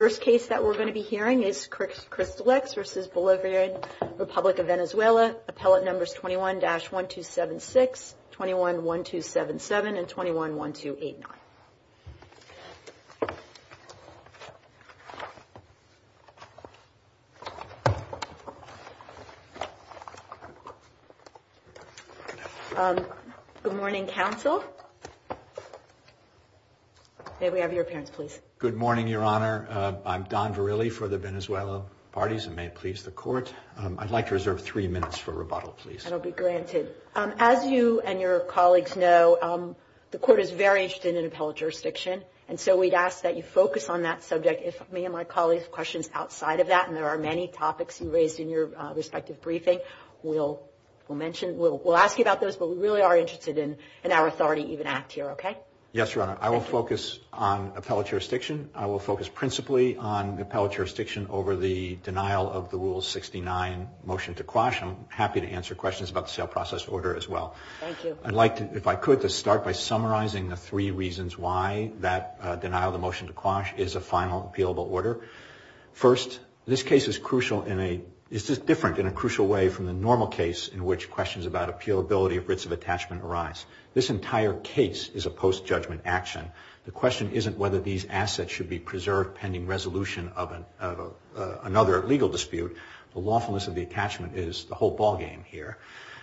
First case that we're going to be hearing is Cristallex v. Bolivarian Republic of Venezuela. Appellate numbers 21-1276, 21-1277 and 21-1289. Good morning, counsel. May we have your appearance, please? Good morning, Your Honor. I'm Don Verrilli for the Venezuelan parties. And may it please the court, I'd like to reserve three minutes for rebuttal, please. That'll be granted. As you and your colleagues know, the court is very interested in appellate jurisdiction. And so we'd ask that you focus on that subject. If me and my colleagues have questions outside of that, and there are many topics you raised in your respective briefing, we'll mention, we'll ask you about those. But we really are interested in our authority to even act here. Okay. Yes, Your Honor. I will focus on appellate jurisdiction. I will focus principally on appellate jurisdiction over the denial of the Rule 69 motion to quash. I'm happy to answer questions about the sale process order as well. Thank you. I'd like to, if I could, to start by summarizing the three reasons why that denial of the motion to quash is a final appealable order. First, this case is different in a crucial way from the normal case in which questions about appealability of writs of attachment arise. This entire case is a post-judgment action. The question isn't whether these assets should be preserved pending resolution of another legal dispute. The lawfulness of the attachment is the whole ballgame here.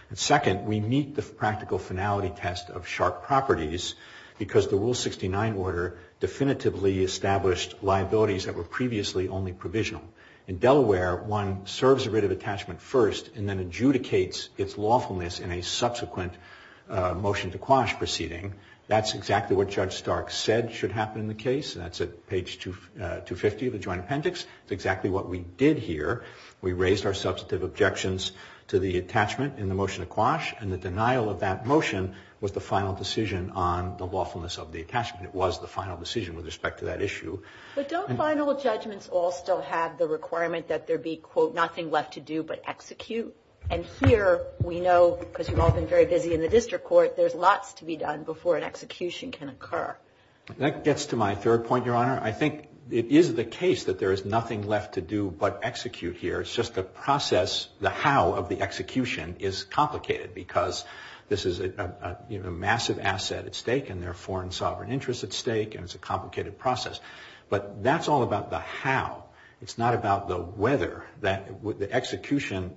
And second, we meet the practical finality test of sharp properties because the Rule 69 order definitively established liabilities that were previously only provisional. In Delaware, one serves a writ of attachment first and then adjudicates its lawfulness in a subsequent motion to quash proceeding. That's exactly what Judge Stark said should happen in the case. That's at page 250 of the Joint Appendix. It's exactly what we did here. We raised our substantive objections to the attachment in the motion to quash and the denial of that motion was the final decision on the lawfulness of the attachment. It was the final decision with respect to that issue. But don't final judgments all still have the requirement that there be, quote, nothing left to do but execute? And here we know, because you've all been very busy in the district court, there's lots to be done before an execution can occur. That gets to my third point, Your Honor. I think it is the case that there is nothing left to do but execute here. It's just the process, the how of the execution is complicated because this is a massive asset at stake and there are foreign sovereign interests at stake and it's a complicated process. But that's all about the how. It's not about the whether that the execution,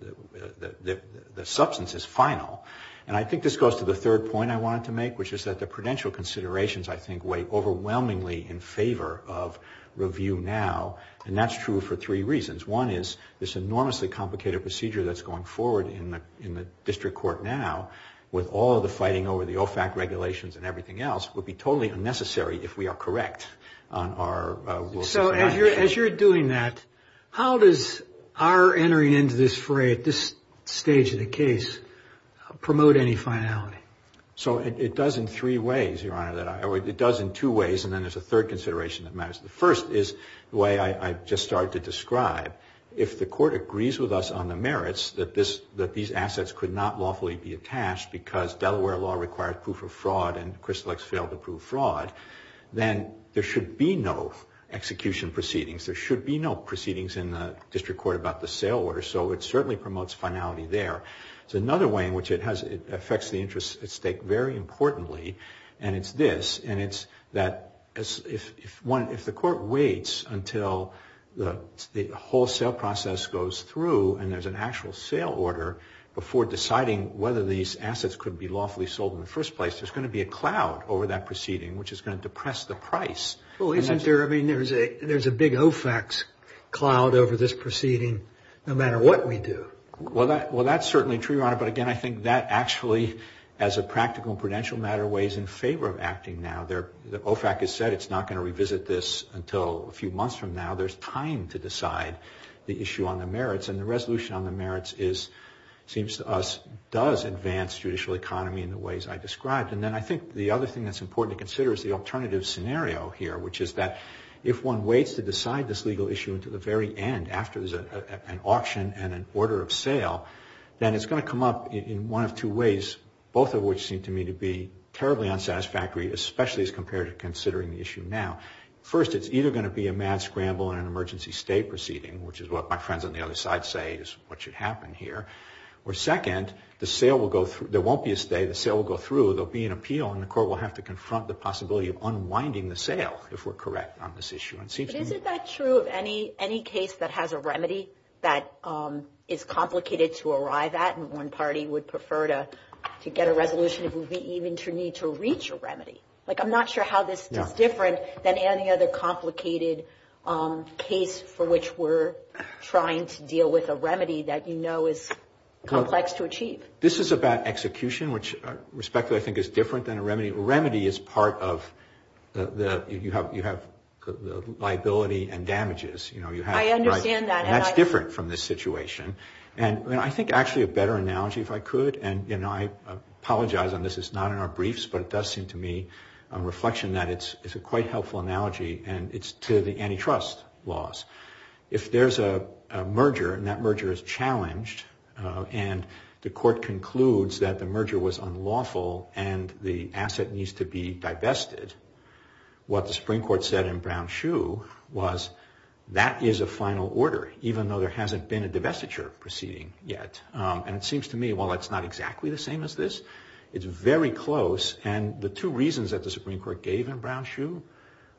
the substance is final. And I think this goes to the third point I wanted to make, which is that the prudential considerations, I think, weigh overwhelmingly in favor of review now. And that's true for three reasons. One is this enormously complicated procedure that's going forward in the district court now, with all of the fighting over the OFAC regulations and everything else, would be totally unnecessary if we are correct on our rules. So as you're as you're doing that, how does our entering into this fray at this stage of the case promote any finality? So it does in three ways, Your Honor, that it does in two ways. And then there's a third consideration that matters. The first is the way I just started to describe. If the court agrees with us on the merits that these assets could not lawfully be attached because Delaware law required proof of fraud and Crystal X failed to prove fraud, then there should be no execution proceedings. There should be no proceedings in the district court about the sale order. So it certainly promotes finality there. It's another way in which it affects the interest at stake very importantly. And it's this, and it's that if the court waits until the wholesale process goes through and there's an actual sale order before deciding whether these assets could be lawfully sold in the first place, there's going to be a cloud over that proceeding, which is going to depress the price. Well, isn't there? I mean, there's a big OFAC's cloud over this proceeding, no matter what we do. Well, that's certainly true, Your Honor. But again, I think that actually, as a practical and prudential matter, weighs in favor of acting now. The OFAC has said it's not going to revisit this until a few months from now. There's time to decide the issue on the merits. And the resolution on the merits is, seems to us, does advance judicial economy in the ways I described. And then I think the other thing that's important to consider is the alternative scenario here, which is that if one waits to decide this legal issue until the very end, after there's an auction and an order of sale, then it's going to come up in one of two ways, both of which seem to me to be terribly unsatisfactory, especially as compared to considering the issue now. First, it's either going to be a mad scramble and an emergency stay proceeding, which is what my friends on the other side say is what should happen here. Or second, the sale will go through. There won't be a stay. The sale will go through. There'll be an appeal. And the court will have to confront the possibility of unwinding the sale if we're correct on this issue. And it seems to me that's true of any case that has a remedy that is complicated to arrive at. And one party would prefer to get a resolution if we even need to reach a remedy. Like, I'm not sure how this is different than any other complicated case for which we're trying to deal with a remedy that you know is complex to achieve. This is about execution, which respectfully I think is different than a remedy. A remedy is part of the, you have liability and damages. You know, you have. I understand that. And that's different from this situation. And I think actually a better analogy, if I could, and I apologize on this, it's not in our briefs, but it does seem to me a reflection that it's a quite helpful analogy. And it's to the antitrust laws. If there's a merger and that merger is challenged and the court concludes that the merger was unlawful and the asset needs to be divested, what the Supreme Court said in Brown-Schuh was that is a final order, even though there hasn't been a divestiture proceeding yet. And it seems to me, while it's not exactly the same as this, it's very close. And the two reasons that the Supreme Court gave in Brown-Schuh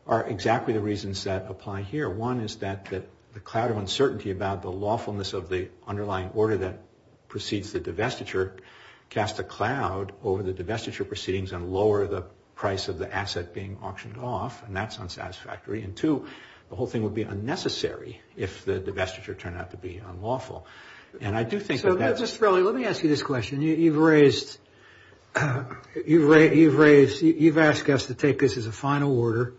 are exactly the reasons that apply here. One is that the cloud of uncertainty about the lawfulness of the underlying order that precedes the divestiture cast a cloud over the divestiture proceedings and lower the price of the asset being auctioned off. And that's unsatisfactory. And, two, the whole thing would be unnecessary if the divestiture turned out to be unlawful. And I do think that that's just really. Let me ask you this question. You've raised, you've asked us to take this as a final order.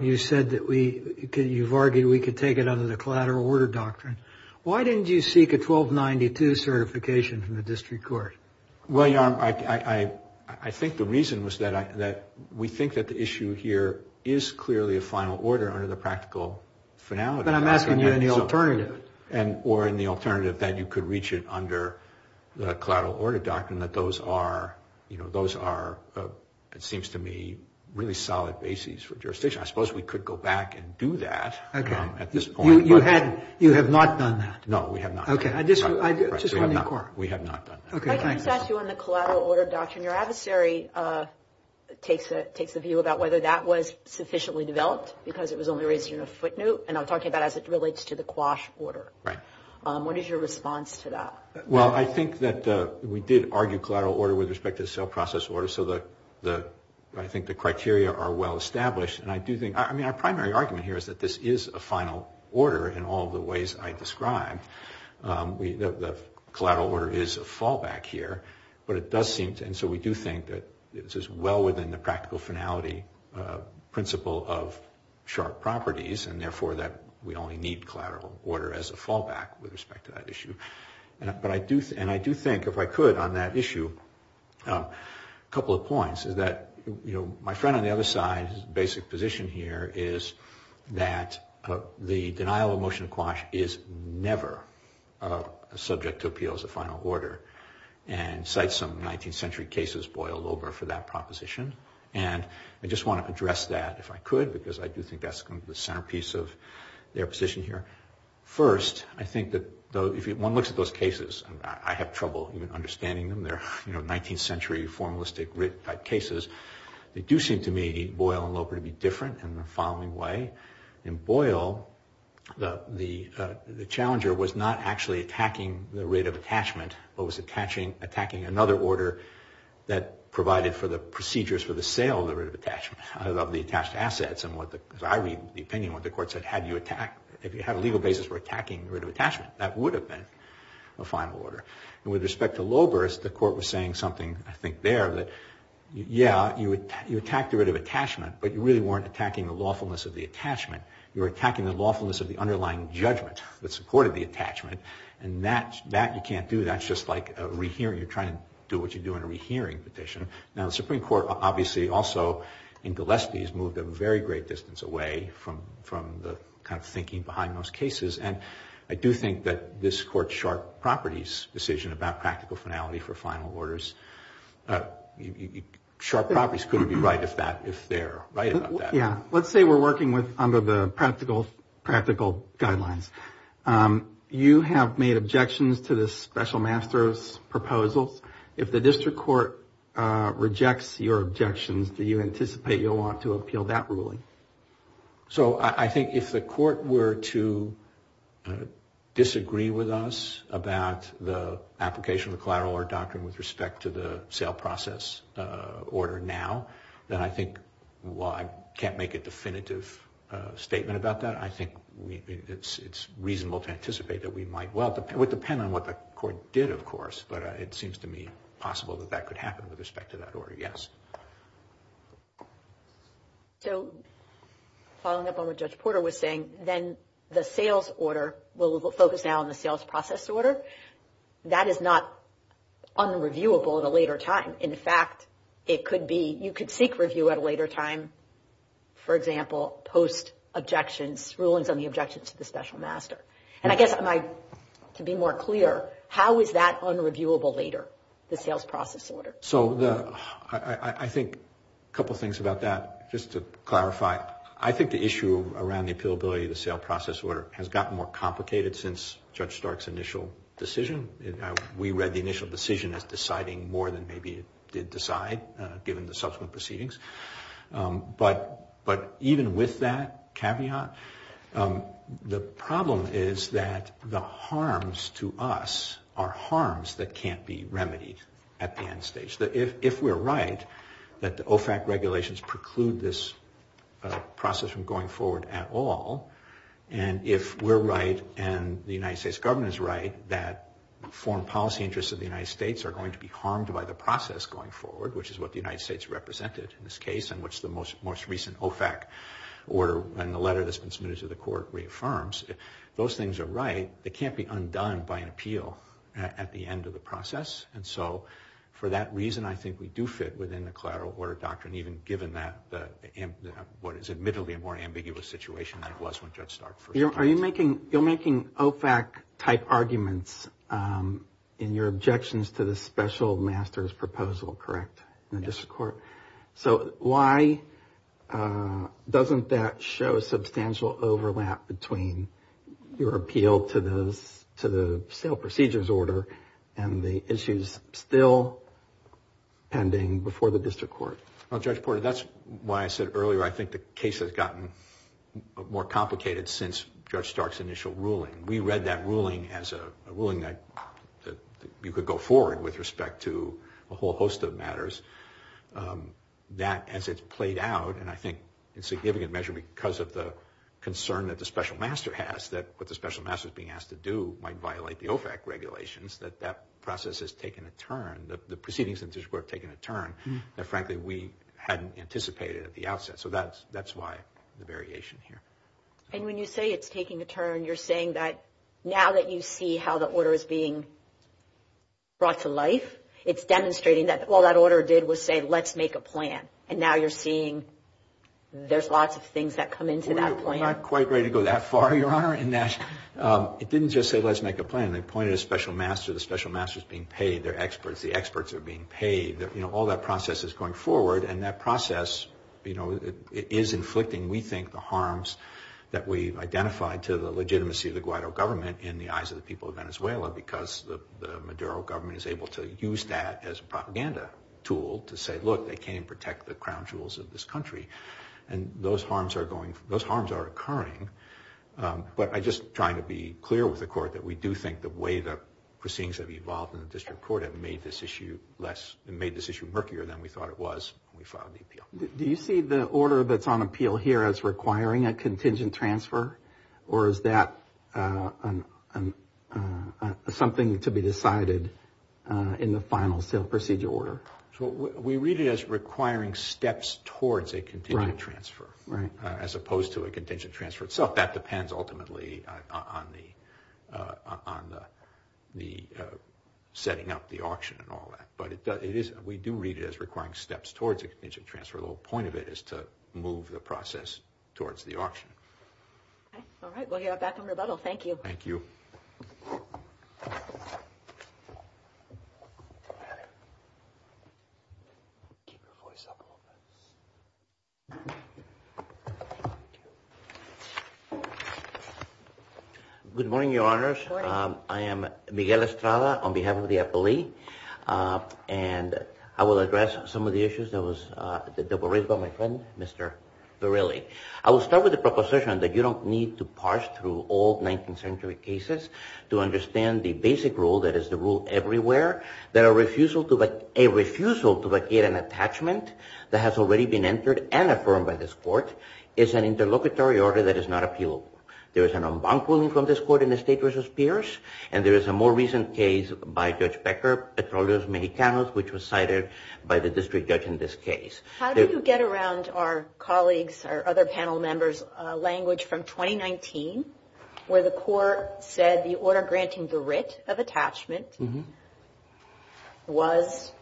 You said that we could, you've argued we could take it under the collateral order doctrine. Why didn't you seek a 1292 certification from the district court? Well, I think the reason was that we think that the issue here is clearly a final order under the practical finality. But I'm asking you in the alternative. Or in the alternative that you could reach it under the collateral order doctrine, that those are, you know, those are, it seems to me, really solid bases for jurisdiction. I suppose we could go back and do that at this point. You have not done that? No, we have not. OK, I just want to be clear. We have not done that. OK. Can I just ask you on the collateral order doctrine, your adversary takes a view about whether that was sufficiently developed because it was only raised in a footnote. And I'm talking about as it relates to the quash order. What is your response to that? Well, I think that we did argue collateral order with respect to the sale process order. So the, I think the criteria are well established. And I do think, I mean, our primary argument here is that this is a final order in all the ways I described. The collateral order is a fallback here, but it does seem to, and so we do think that this is well within the practical finality principle of sharp properties. And therefore, that we only need collateral order as a fallback with respect to that issue. But I do, and I do think if I could on that issue, a couple of points is that, you know, my friend on the other side's basic position here is that the denial of motion of quash is never subject to appeal as a final order. And cite some 19th century cases boiled over for that proposition. And I just want to address that if I could, because I do think that's the centerpiece of their position here. First, I think that if one looks at those cases, I have trouble even understanding them. They're, you know, 19th century formalistic cases. They do seem to me, Boyle and Loper, to be different in the following way. In Boyle, the challenger was not actually attacking the writ of attachment, but was attacking another order that provided for the procedures for the sale of the writ of attachment, of the attached assets. And what the, as I read the opinion, what the court said, had you attacked, if you had a legal basis for attacking the writ of attachment, that would have been a final order. And with respect to Loper, the court was saying something, I think, there that, yeah, you attacked the writ of attachment, but you really weren't attacking the lawfulness of the attachment. You were attacking the lawfulness of the underlying judgment that supported the attachment, and that you can't do. That's just like a rehearing, you're trying to do what you do in a rehearing petition. Now, the Supreme Court, obviously, also in Gillespie, has moved a very great distance away from the kind of thinking behind those cases. And I do think that this court's sharp properties decision about practical finality for final orders, sharp properties couldn't be right if that, if they're right about that. Yeah. Let's say we're working with, under the practical guidelines, you have made objections to the special master's proposals. If the district court rejects your objections, do you anticipate you'll want to appeal that ruling? So, I think if the court were to disagree with us about the application of the collateral order doctrine with respect to the sale process order now, then I think, while I can't make a definitive statement about that, I think it's reasonable to anticipate that we might, well, it would depend on what the court did, of course. But it seems to me possible that that could happen with respect to that order, yes. So, following up on what Judge Porter was saying, then the sales order, we'll focus now on the sales process order, that is not unreviewable at a later time. In fact, it could be, you could seek review at a later time, for example, post-objections, rulings on the objections to the special master. And I guess, to be more clear, how is that unreviewable later, the sales process order? So, I think a couple things about that, just to clarify. I think the issue around the appealability of the sales process order has gotten more complicated since Judge Stark's initial decision. We read the initial decision as deciding more than maybe it did decide, given the subsequent proceedings. But even with that caveat, the problem is that the harms to us are harms that can't be remedied at the end stage. If we're right, that the OFAC regulations preclude this process from going forward at all, and if we're right, and the United States government is right, that foreign policy interests of the United States are going to be harmed by the process going forward, which is what the United States represented in this case, and what's the most recent OFAC order, and the letter that's been submitted to the court reaffirms, if those things are right, they can't be undone by an appeal at the end of the process. And so, for that reason, I think we do fit within the collateral order doctrine, even given what is admittedly a more ambiguous situation than it was when Judge Stark first came to office. You're making OFAC-type arguments in your objections to the special master's proposal, correct, in the district court? Yes. So why doesn't that show a substantial overlap between your appeal to the sale procedures order and the issues still pending before the district court? Well, Judge Porter, that's why I said earlier I think the case has gotten more complicated since Judge Stark's initial ruling. We read that ruling as a ruling that you could go forward with respect to a whole host of matters. That, as it's played out, and I think in significant measure because of the concern that the special master has, that what the special master's being asked to do might violate the OFAC regulations, that that process has taken a turn, the proceedings in the district court have taken a turn that, frankly, we hadn't anticipated at the outset. So that's why the variation here. And when you say it's taking a turn, you're saying that now that you see how the order is being brought to life, it's demonstrating that all that order did was say let's make a plan, and now you're seeing there's lots of things that come into that plan. We're not quite ready to go that far, Your Honor, in that it didn't just say let's make a plan. They pointed a special master. The special master's being paid. They're experts. The experts are being paid. All that process is going forward, and that process is inflicting, we think, the harms that we've identified to the legitimacy of the Guaido government in the eyes of the people of Venezuela because the Maduro government is able to use that as a propaganda tool to say, look, they can't even protect the crown jewels of this country. And those harms are occurring. But I'm just trying to be clear with the court that we do think the way the proceedings have evolved in the district court have made this issue less, made this issue murkier than we thought it was when we filed the appeal. Do you see the order that's on appeal here as requiring a contingent transfer, or is that something to be decided in the final sale procedure order? We read it as requiring steps towards a contingent transfer, as opposed to a contingent transfer itself. That depends ultimately on the setting up the auction and all that. But we do read it as requiring steps towards a contingent transfer. The whole point of it is to move the process towards the auction. All right. We'll get back on rebuttal. Thank you. Thank you. Thank you. Good morning, Your Honors. Good morning. I am Miguel Estrada on behalf of the appellee, and I will address some of the issues that were raised by my friend, Mr. Verrilli. I will start with the proposition that you don't need to parse through all 19th century cases to understand the basic rule that is the rule everywhere, that a refusal to vacate an attachment that has already been entered and affirmed by this court is an interlocutory order that is not appealable. There is an en banc ruling from this court in the State versus Pierce, and there is a more recent case by Judge Becker, Petroleum Mexicanos, which was cited by the district judge in this case. How did you get around our colleagues, our other panel members' language from 2019, where the court said the order granting the writ of attachment was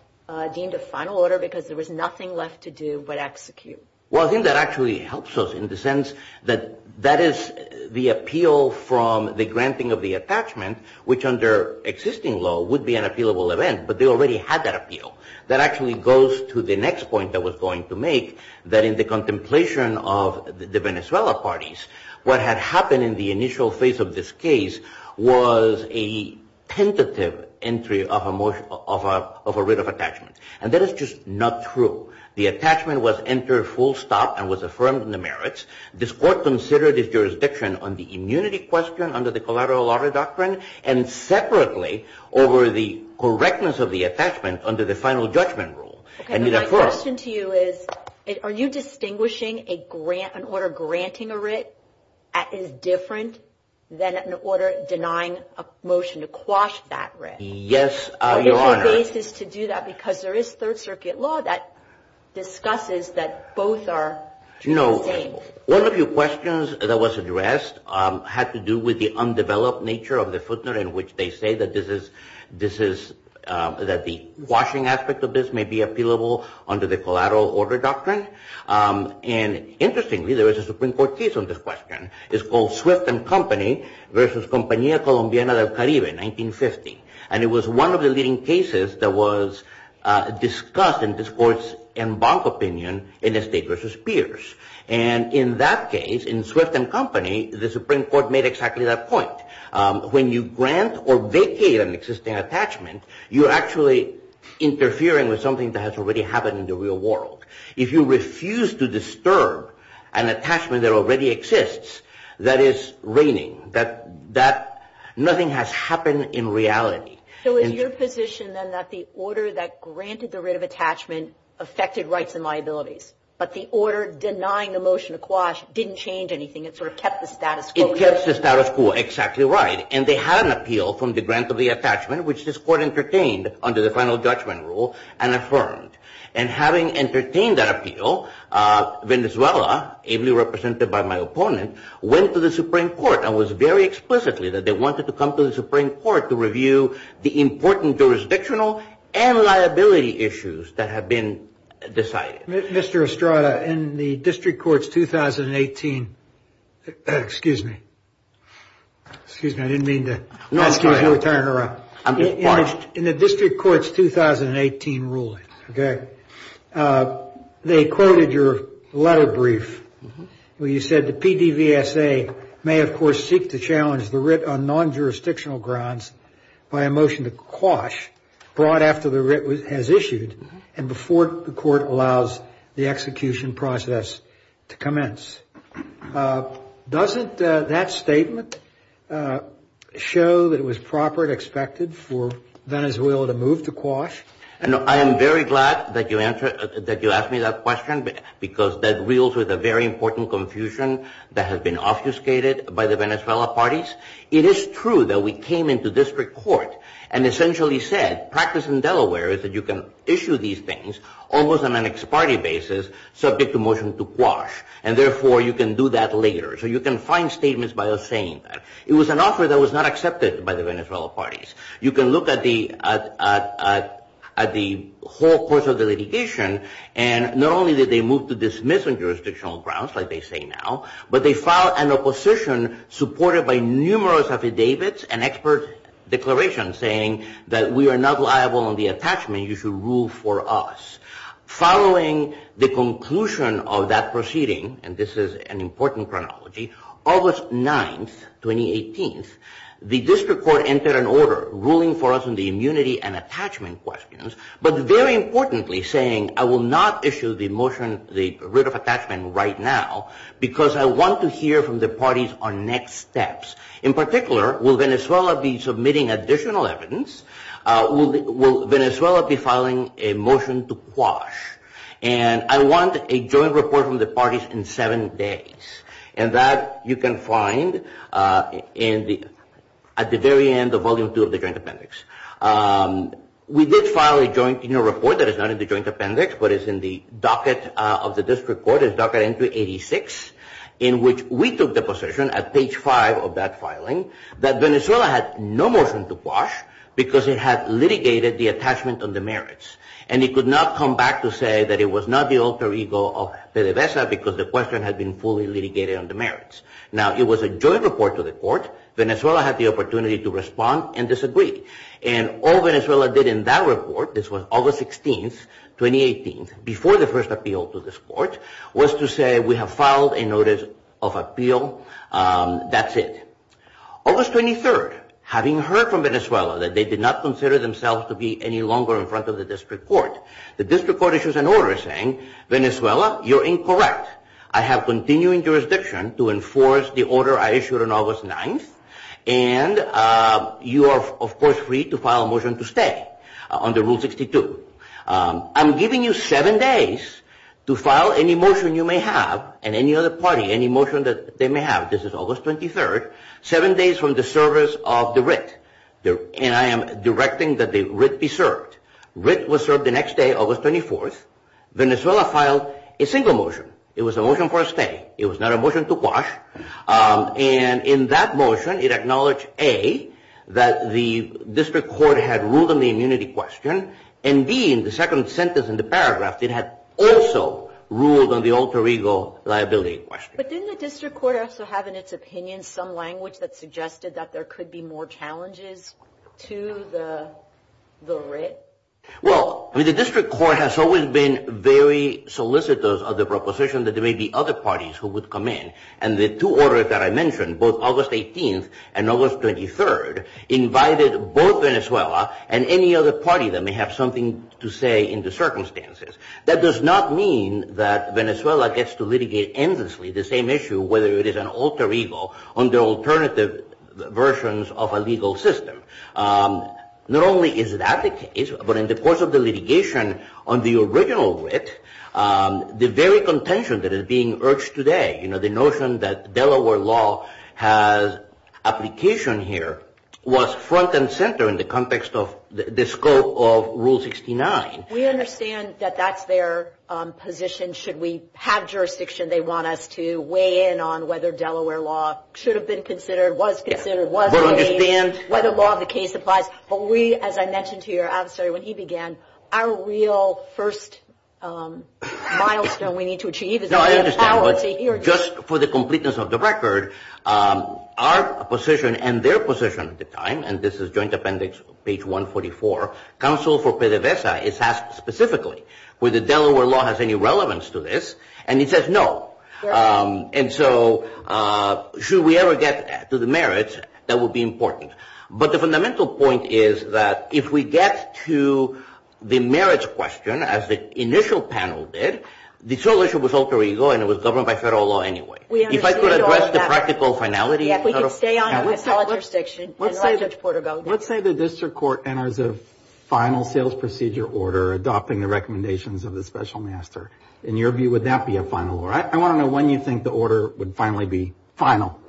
deemed a final order because there was nothing left to do but execute? Well, I think that actually helps us in the sense that that is the appeal from the granting of the attachment, which under existing law would be an appealable event, but they already had that appeal. That actually goes to the next point I was going to make, that in the contemplation of the Venezuela parties, what had happened in the initial phase of this case was a tentative entry of a writ of attachment, and that is just not true. The attachment was entered full stop and was affirmed in the merits. This court considered its jurisdiction on the immunity question under the collateral order doctrine and separately over the correctness of the attachment under the final judgment rule. My question to you is, are you distinguishing an order granting a writ that is different than an order denying a motion to quash that writ? Yes, Your Honor. Is there a basis to do that? Because there is Third Circuit law that discusses that both are the same. One of your questions that was addressed had to do with the undeveloped nature of the footnote in which they say that the quashing aspect of this may be appealable under the collateral order doctrine. And interestingly, there was a Supreme Court case on this question. It's called Swift and Company versus Compañía Colombiana del Caribe, 1950. And it was one of the leading cases that was discussed in this court's en banc opinion in the state versus peers. And in that case, in Swift and Company, the Supreme Court made exactly that point. When you grant or vacate an existing attachment, you're actually interfering with something that has already happened in the real world. If you refuse to disturb an attachment that already exists, that is reigning, that nothing has happened in reality. So is your position then that the order that granted the writ of attachment affected rights and liabilities, but the order denying the motion to quash didn't change anything? It sort of kept the status quo? It kept the status quo, exactly. You're absolutely right. And they had an appeal from the grant of the attachment, which this court entertained under the final judgment rule and affirmed. And having entertained that appeal, Venezuela, ably represented by my opponent, went to the Supreme Court and was very explicitly that they wanted to come to the Supreme Court to review the important jurisdictional and liability issues that had been decided. Mr. Estrada, in the District Court's 2018 ruling, they quoted your letter brief where you said the PDVSA may, of course, seek to challenge the writ on non-jurisdictional grounds by a motion to quash brought after the writ has issued and before the court allows the execution process to commence. Doesn't that statement show that it was proper and expected for Venezuela to move to quash? I am very glad that you asked me that question because that reels with a very important confusion that has been obfuscated by the Venezuela parties. It is true that we came into District Court and essentially said practice in Delaware is that you can issue these things almost on an ex parte basis subject to motion to quash. And therefore, you can do that later. So you can find statements by us saying that. It was an offer that was not accepted by the Venezuela parties. You can look at the whole course of the litigation and not only did they move to dismissing jurisdictional grounds, like they say now, but they filed an opposition supported by numerous affidavits and expert declarations saying that we are not liable on the attachment. You should rule for us. Following the conclusion of that proceeding, and this is an important chronology, August 9th, 2018, the District Court entered an order ruling for us on the immunity and attachment questions, but very importantly saying I will not issue the motion, the writ of attachment right now, because I want to hear from the parties on next steps. In particular, will Venezuela be submitting additional evidence? Will Venezuela be filing a motion to quash? And I want a joint report from the parties in seven days. And that you can find at the very end of Volume 2 of the Joint Appendix. We did file a joint report that is not in the Joint Appendix, but is in the docket of the District Court, is docket entry 86, in which we took the position at page 5 of that filing that Venezuela had no motion to quash because it had litigated the attachment on the merits. And it could not come back to say that it was not the alter ego of PDVSA because the question had been fully litigated on the merits. Now, it was a joint report to the court. Venezuela had the opportunity to respond and disagree. And all Venezuela did in that report, this was August 16th, 2018, before the first appeal to this court, was to say we have filed a notice of appeal. That's it. August 23rd, having heard from Venezuela that they did not consider themselves to be any longer in front of the District Court, the District Court issues an order saying Venezuela, you're incorrect. I have continuing jurisdiction to enforce the order I issued on August 9th. And you are, of course, free to file a motion to stay under Rule 62. I'm giving you seven days to file any motion you may have and any other party, any motion that they may have. This is August 23rd. Seven days from the service of the writ. And I am directing that the writ be served. Writ was served the next day, August 24th. Venezuela filed a single motion. It was a motion for a stay. It was not a motion to quash. And in that motion, it acknowledged, A, that the District Court had ruled on the immunity question, and, B, in the second sentence in the paragraph, it had also ruled on the alter ego liability question. But didn't the District Court also have in its opinion some language that suggested that there could be more challenges to the writ? Well, I mean, the District Court has always been very solicitous of the proposition that there may be other parties who would come in. And the two orders that I mentioned, both August 18th and August 23rd, invited both Venezuela and any other party that may have something to say in the circumstances. That does not mean that Venezuela gets to litigate endlessly the same issue, whether it is an alter ego on the alternative versions of a legal system. Not only is that the case, but in the course of the litigation on the original writ, the very contention that is being urged today, you know, the notion that Delaware law has application here, was front and center in the context of the scope of Rule 69. We understand that that's their position. Should we have jurisdiction, they want us to weigh in on whether Delaware law should have been considered, was considered, whether law of the case applies. But we, as I mentioned to your adversary when he began, our real first milestone we need to achieve is the power to hear. Just for the completeness of the record, our position and their position at the time, and this is joint appendix page 144, counsel for PDVSA is asked specifically, whether Delaware law has any relevance to this, and he says no. And so should we ever get to the merits, that would be important. But the fundamental point is that if we get to the merits question, as the initial panel did, the sole issue was alter ego, and it was governed by federal law anyway. If I could address the practical finality. If we could stay on the missile intersection. Let's say the district court enters a final sales procedure order adopting the recommendations of the special master. In your view, would that be a final order? I want to know when you think the order would finally be final.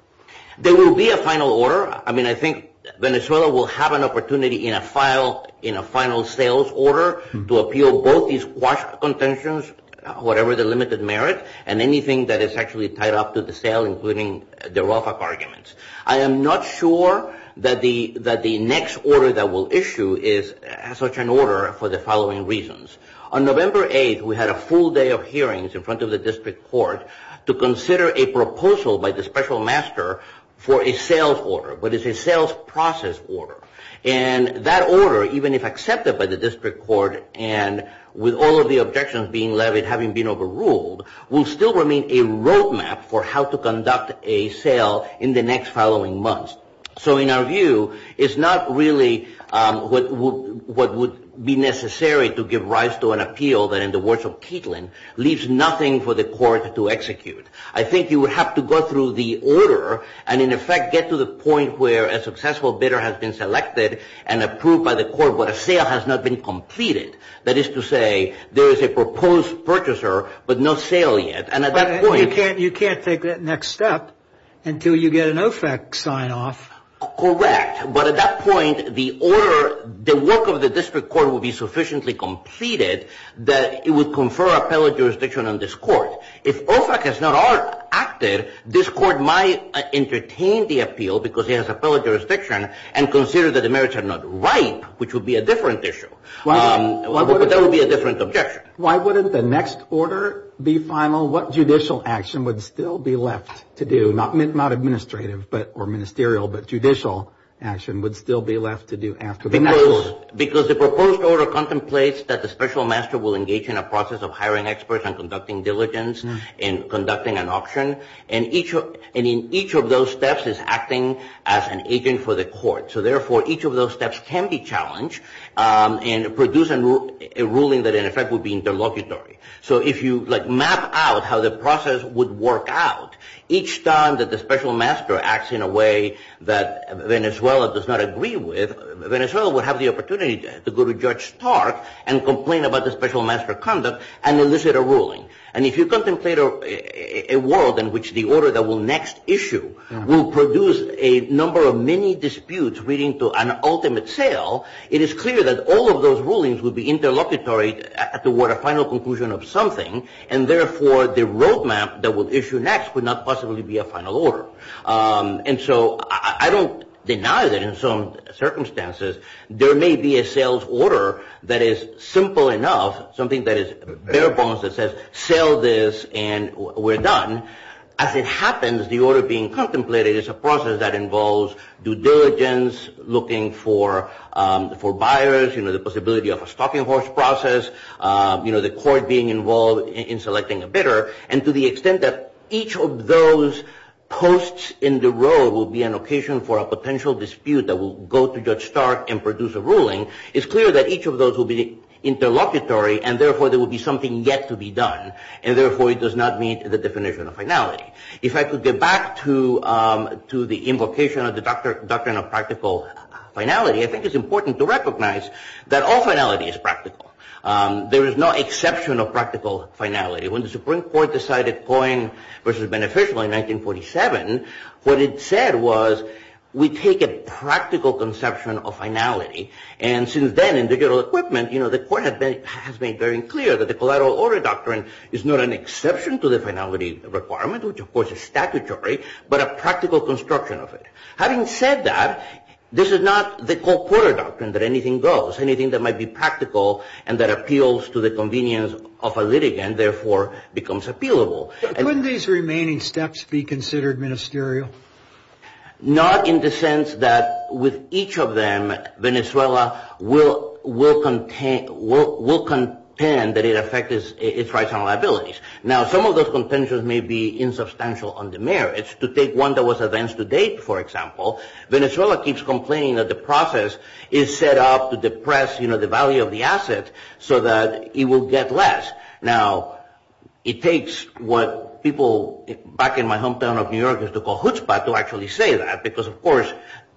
There will be a final order. I mean, I think Venezuela will have an opportunity in a final sales order to appeal both these quash contentions, whatever the limited merit, and anything that is actually tied up to the sale, including the rough up arguments. I am not sure that the next order that we'll issue is such an order for the following reasons. On November 8th, we had a full day of hearings in front of the district court to consider a proposal by the special master for a sales order, but it's a sales process order. And that order, even if accepted by the district court, and with all of the objections being levied having been overruled, will still remain a roadmap for how to conduct a sale in the next following months. So in our view, it's not really what would be necessary to give rise to an appeal that, in the words of Keatland, leaves nothing for the court to execute. I think you would have to go through the order and, in effect, get to the point where a successful bidder has been selected and approved by the court, but a sale has not been completed. That is to say, there is a proposed purchaser, but no sale yet. But you can't take that next step until you get an OFAC sign-off. Correct. But at that point, the order, the work of the district court would be sufficiently completed that it would confer appellate jurisdiction on this court. If OFAC has not acted, this court might entertain the appeal because it has appellate jurisdiction and consider that the merits are not ripe, which would be a different issue. But that would be a different objection. Why wouldn't the next order be final? What judicial action would still be left to do, not administrative or ministerial, but judicial action would still be left to do after the next order? Because the proposed order contemplates that the special master will engage in a process of hiring experts and conducting diligence and conducting an auction. And in each of those steps is acting as an agent for the court. So, therefore, each of those steps can be challenged and produce a ruling that, in effect, would be interlocutory. So if you map out how the process would work out, each time that the special master acts in a way that Venezuela does not agree with, Venezuela would have the opportunity to go to Judge Stark and complain about the special master conduct and elicit a ruling. And if you contemplate a world in which the order that will next issue will produce a number of many disputes leading to an ultimate sale, it is clear that all of those rulings would be interlocutory toward a final conclusion of something. And, therefore, the roadmap that will issue next would not possibly be a final order. And so I don't deny that in some circumstances there may be a sales order that is simple enough, something that is bare bones that says sell this and we're done. As it happens, the order being contemplated is a process that involves due diligence, looking for buyers, the possibility of a stocking horse process, the court being involved in selecting a bidder. And to the extent that each of those posts in the road will be an occasion for a potential dispute that will go to Judge Stark and produce a ruling, it's clear that each of those will be interlocutory, and, therefore, there will be something yet to be done. And, therefore, it does not meet the definition of finality. If I could get back to the invocation of the doctrine of practical finality, I think it's important to recognize that all finality is practical. There is no exception of practical finality. When the Supreme Court decided Coyne versus Beneficial in 1947, what it said was we take a practical conception of finality. And since then in digital equipment, you know, the court has made very clear that the collateral order doctrine is not an exception to the finality requirement, which, of course, is statutory, but a practical construction of it. Having said that, this is not the court order doctrine that anything goes. Anything that might be practical and that appeals to the convenience of a litigant, therefore, becomes appealable. Couldn't these remaining steps be considered ministerial? Not in the sense that with each of them, Venezuela will contend that it affects its rights and liabilities. Now, some of those contentions may be insubstantial on the merits. To take one that was events to date, for example, Venezuela keeps complaining that the process is set up to depress, you know, the value of the asset so that it will get less. Now, it takes what people back in my hometown of New York used to call chutzpah to actually say that, because, of course,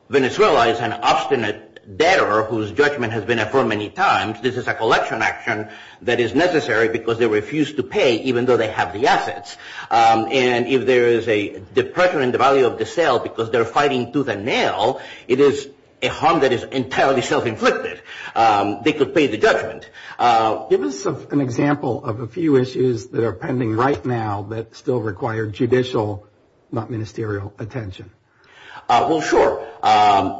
Venezuela is an obstinate debtor whose judgment has been affirmed many times. This is a collection action that is necessary because they refuse to pay, even though they have the assets. And if there is a depression in the value of the sale because they're fighting tooth and nail, it is a harm that is entirely self-inflicted. They could pay the judgment. Give us an example of a few issues that are pending right now that still require judicial, not ministerial, attention. Well, sure.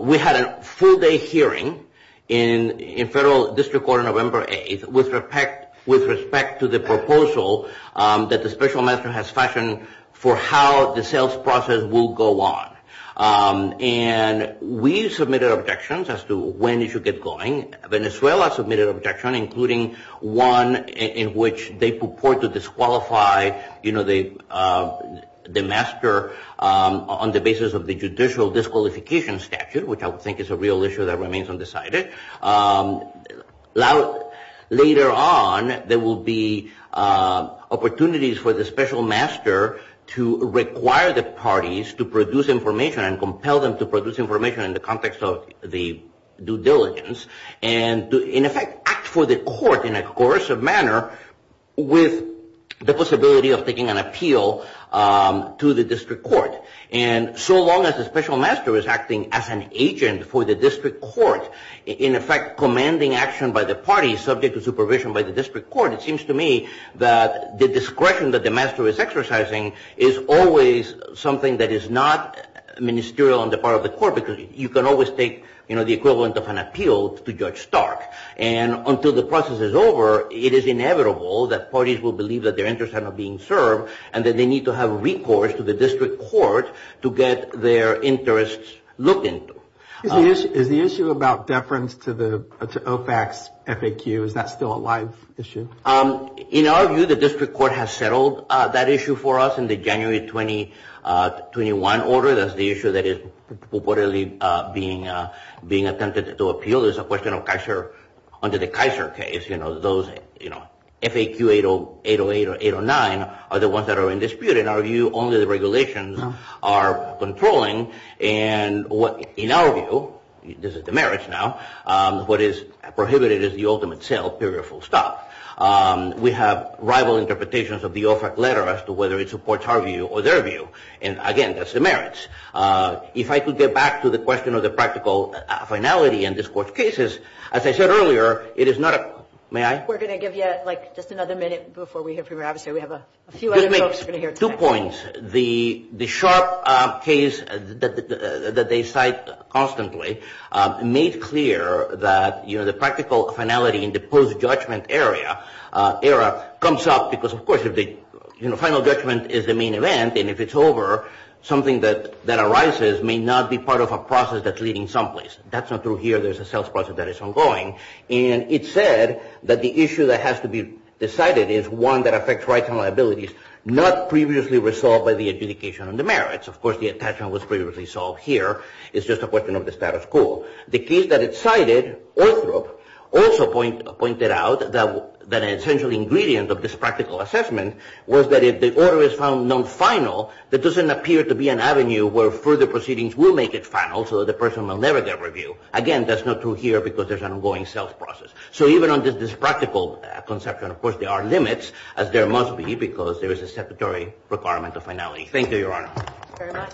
We had a full-day hearing in federal district court on November 8th with respect to the proposal that the special master has fashioned for how the sales process will go on. And we submitted objections as to when it should get going. Venezuela submitted an objection, including one in which they purport to disqualify, you know, the master on the basis of the judicial disqualification statute, which I would think is a real issue that remains undecided. Later on, there will be opportunities for the special master to require the parties to produce information and compel them to produce information in the context of the due diligence and, in effect, act for the court in a coercive manner with the possibility of taking an appeal to the district court. And so long as the special master is acting as an agent for the district court, in effect, commanding action by the parties subject to supervision by the district court, that the discretion that the master is exercising is always something that is not ministerial on the part of the court because you can always take, you know, the equivalent of an appeal to Judge Stark. And until the process is over, it is inevitable that parties will believe that their interests are not being served and that they need to have recourse to the district court to get their interests looked into. Is the issue about deference to OFAC's FAQ, is that still a live issue? In our view, the district court has settled that issue for us in the January 2021 order. That's the issue that is reportedly being attempted to appeal. It's a question of under the Kaiser case, you know, those, you know, FAQ 808 or 809 are the ones that are in dispute. In our view, only the regulations are controlling. And in our view, this is the merits now, what is prohibited is the ultimate sale, period, full stop. We have rival interpretations of the OFAC letter as to whether it supports our view or their view. And again, that's the merits. If I could get back to the question of the practical finality in this court's cases, as I said earlier, it is not a – may I? We're going to give you, like, just another minute before we hear from you. Obviously, we have a few other folks who are going to hear tonight. Let me make two points. The sharp case that they cite constantly made clear that, you know, the practical finality in the post-judgment era comes up because, of course, if the final judgment is the main event and if it's over, something that arises may not be part of a process that's leading someplace. That's not through here. There's a sales process that is ongoing. And it said that the issue that has to be decided is one that affects rights and liabilities, not previously resolved by the adjudication of the merits. Of course, the attachment was previously solved here. It's just a question of the status quo. The case that it cited, Orthrup, also pointed out that an essential ingredient of this practical assessment was that if the order is found non-final, there doesn't appear to be an avenue where further proceedings will make it final so that the person will never get review. Again, that's not through here because there's an ongoing sales process. So even on this practical conception, of course, there are limits, as there must be because there is a statutory requirement of finality. Thank you, Your Honor. Thank you very much.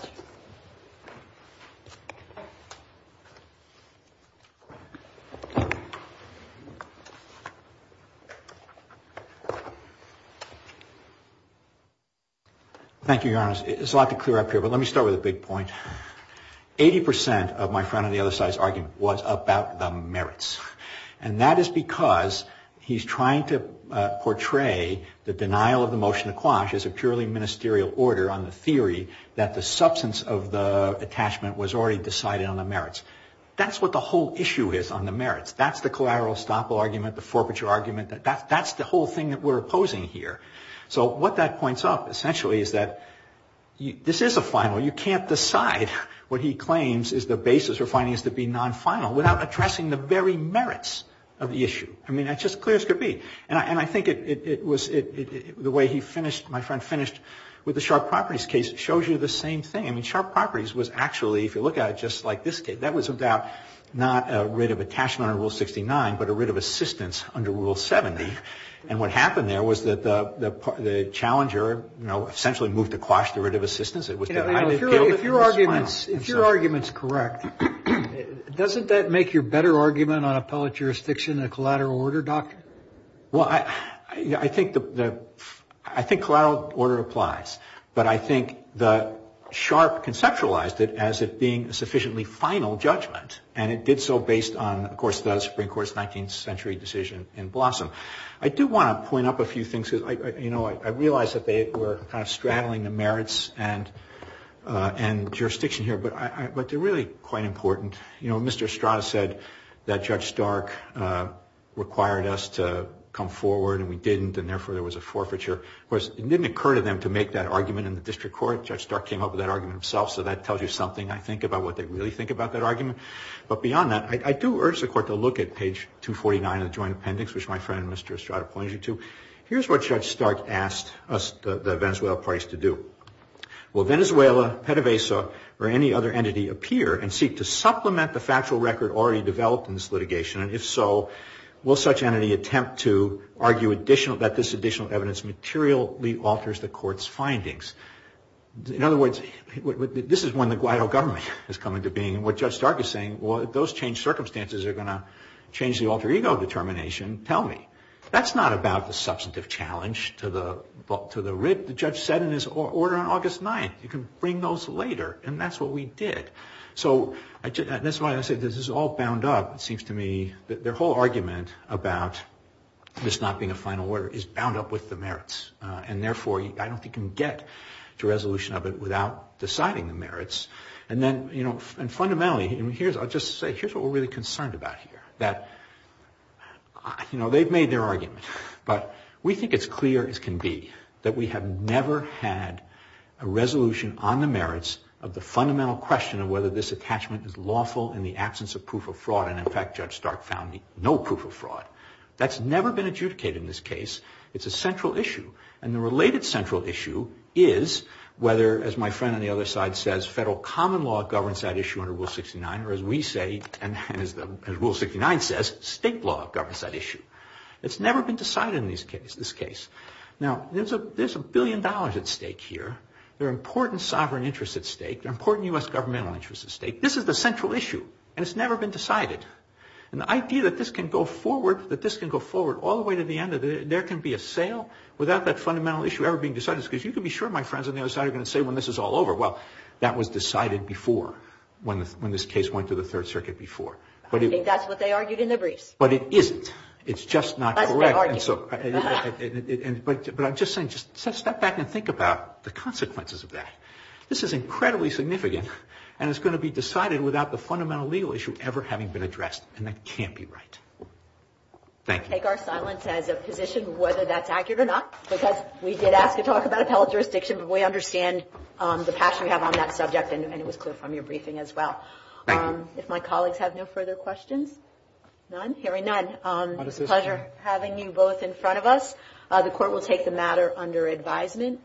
Thank you, Your Honor. It's a lot to clear up here, but let me start with a big point. Eighty percent of my friend on the other side's argument was about the merits. And that is because he's trying to portray the denial of the motion to quash as a purely ministerial order on the theory that the substance of the attachment was already decided on the merits. That's what the whole issue is on the merits. That's the collateral estoppel argument, the forfeiture argument. That's the whole thing that we're opposing here. So what that points up, essentially, is that this is a final. You can't decide what he claims is the basis for finding this to be non-final without addressing the very merits of the issue. I mean, that's just as clear as could be. And I think it was the way he finished, my friend finished, with the Sharp Properties case, it shows you the same thing. I mean, Sharp Properties was actually, if you look at it just like this case, that was about not a writ of attachment under Rule 69, but a writ of assistance under Rule 70. And what happened there was that the challenger, you know, essentially moved to quash the writ of assistance. If your argument is correct, doesn't that make your better argument on appellate jurisdiction a collateral order, doctor? Well, I think collateral order applies. But I think that Sharp conceptualized it as it being a sufficiently final judgment, and it did so based on, of course, the Supreme Court's 19th century decision in Blossom. I do want to point out a few things. You know, I realize that they were kind of straddling the merits and jurisdiction here, but they're really quite important. You know, Mr. Estrada said that Judge Stark required us to come forward, and we didn't, and therefore there was a forfeiture. Of course, it didn't occur to them to make that argument in the district court. Judge Stark came up with that argument himself, so that tells you something, I think, about what they really think about that argument. But beyond that, I do urge the Court to look at page 249 of the Joint Appendix, which my friend Mr. Estrada points you to. Here's what Judge Stark asked the Venezuelan parties to do. Will Venezuela, PDVSA, or any other entity appear and seek to supplement the factual record already developed in this litigation, and if so, will such entity attempt to argue that this additional evidence materially alters the Court's findings? In other words, this is when the Guaido government has come into being, and what Judge Stark is saying, well, if those changed circumstances are going to change the alter ego determination, tell me. That's not about the substantive challenge to the writ the judge said in his order on August 9th. You can bring those later, and that's what we did. So that's why I say this is all bound up, it seems to me. Their whole argument about this not being a final order is bound up with the merits, and therefore I don't think you can get to resolution of it without deciding the merits. And fundamentally, I'll just say, here's what we're really concerned about here, that, you know, they've made their argument, but we think it's clear as can be that we have never had a resolution on the merits of the fundamental question of whether this attachment is lawful in the absence of proof of fraud, and in fact, Judge Stark found no proof of fraud. That's never been adjudicated in this case. It's a central issue, and the related central issue is whether, as my friend on the other side says, federal common law governs that issue under Rule 69, or as we say, and as Rule 69 says, state law governs that issue. It's never been decided in this case. Now, there's a billion dollars at stake here. There are important sovereign interests at stake. There are important U.S. governmental interests at stake. This is the central issue, and it's never been decided. And the idea that this can go forward all the way to the end, that there can be a sale without that fundamental issue ever being decided, because you can be sure my friends on the other side are going to say when this is all over, well, that was decided before when this case went to the Third Circuit before. I think that's what they argued in the briefs. But it isn't. It's just not correct. But I'm just saying step back and think about the consequences of that. This is incredibly significant, and it's going to be decided without the fundamental legal issue ever having been addressed, and that can't be right. Thank you. We take our silence as a position whether that's accurate or not, because we did ask to talk about appellate jurisdiction, but we understand the passion we have on that subject, and it was clear from your briefing as well. Thank you. If my colleagues have no further questions. None. Hearing none, it's a pleasure having you both in front of us. The Court will take the matter under advisement.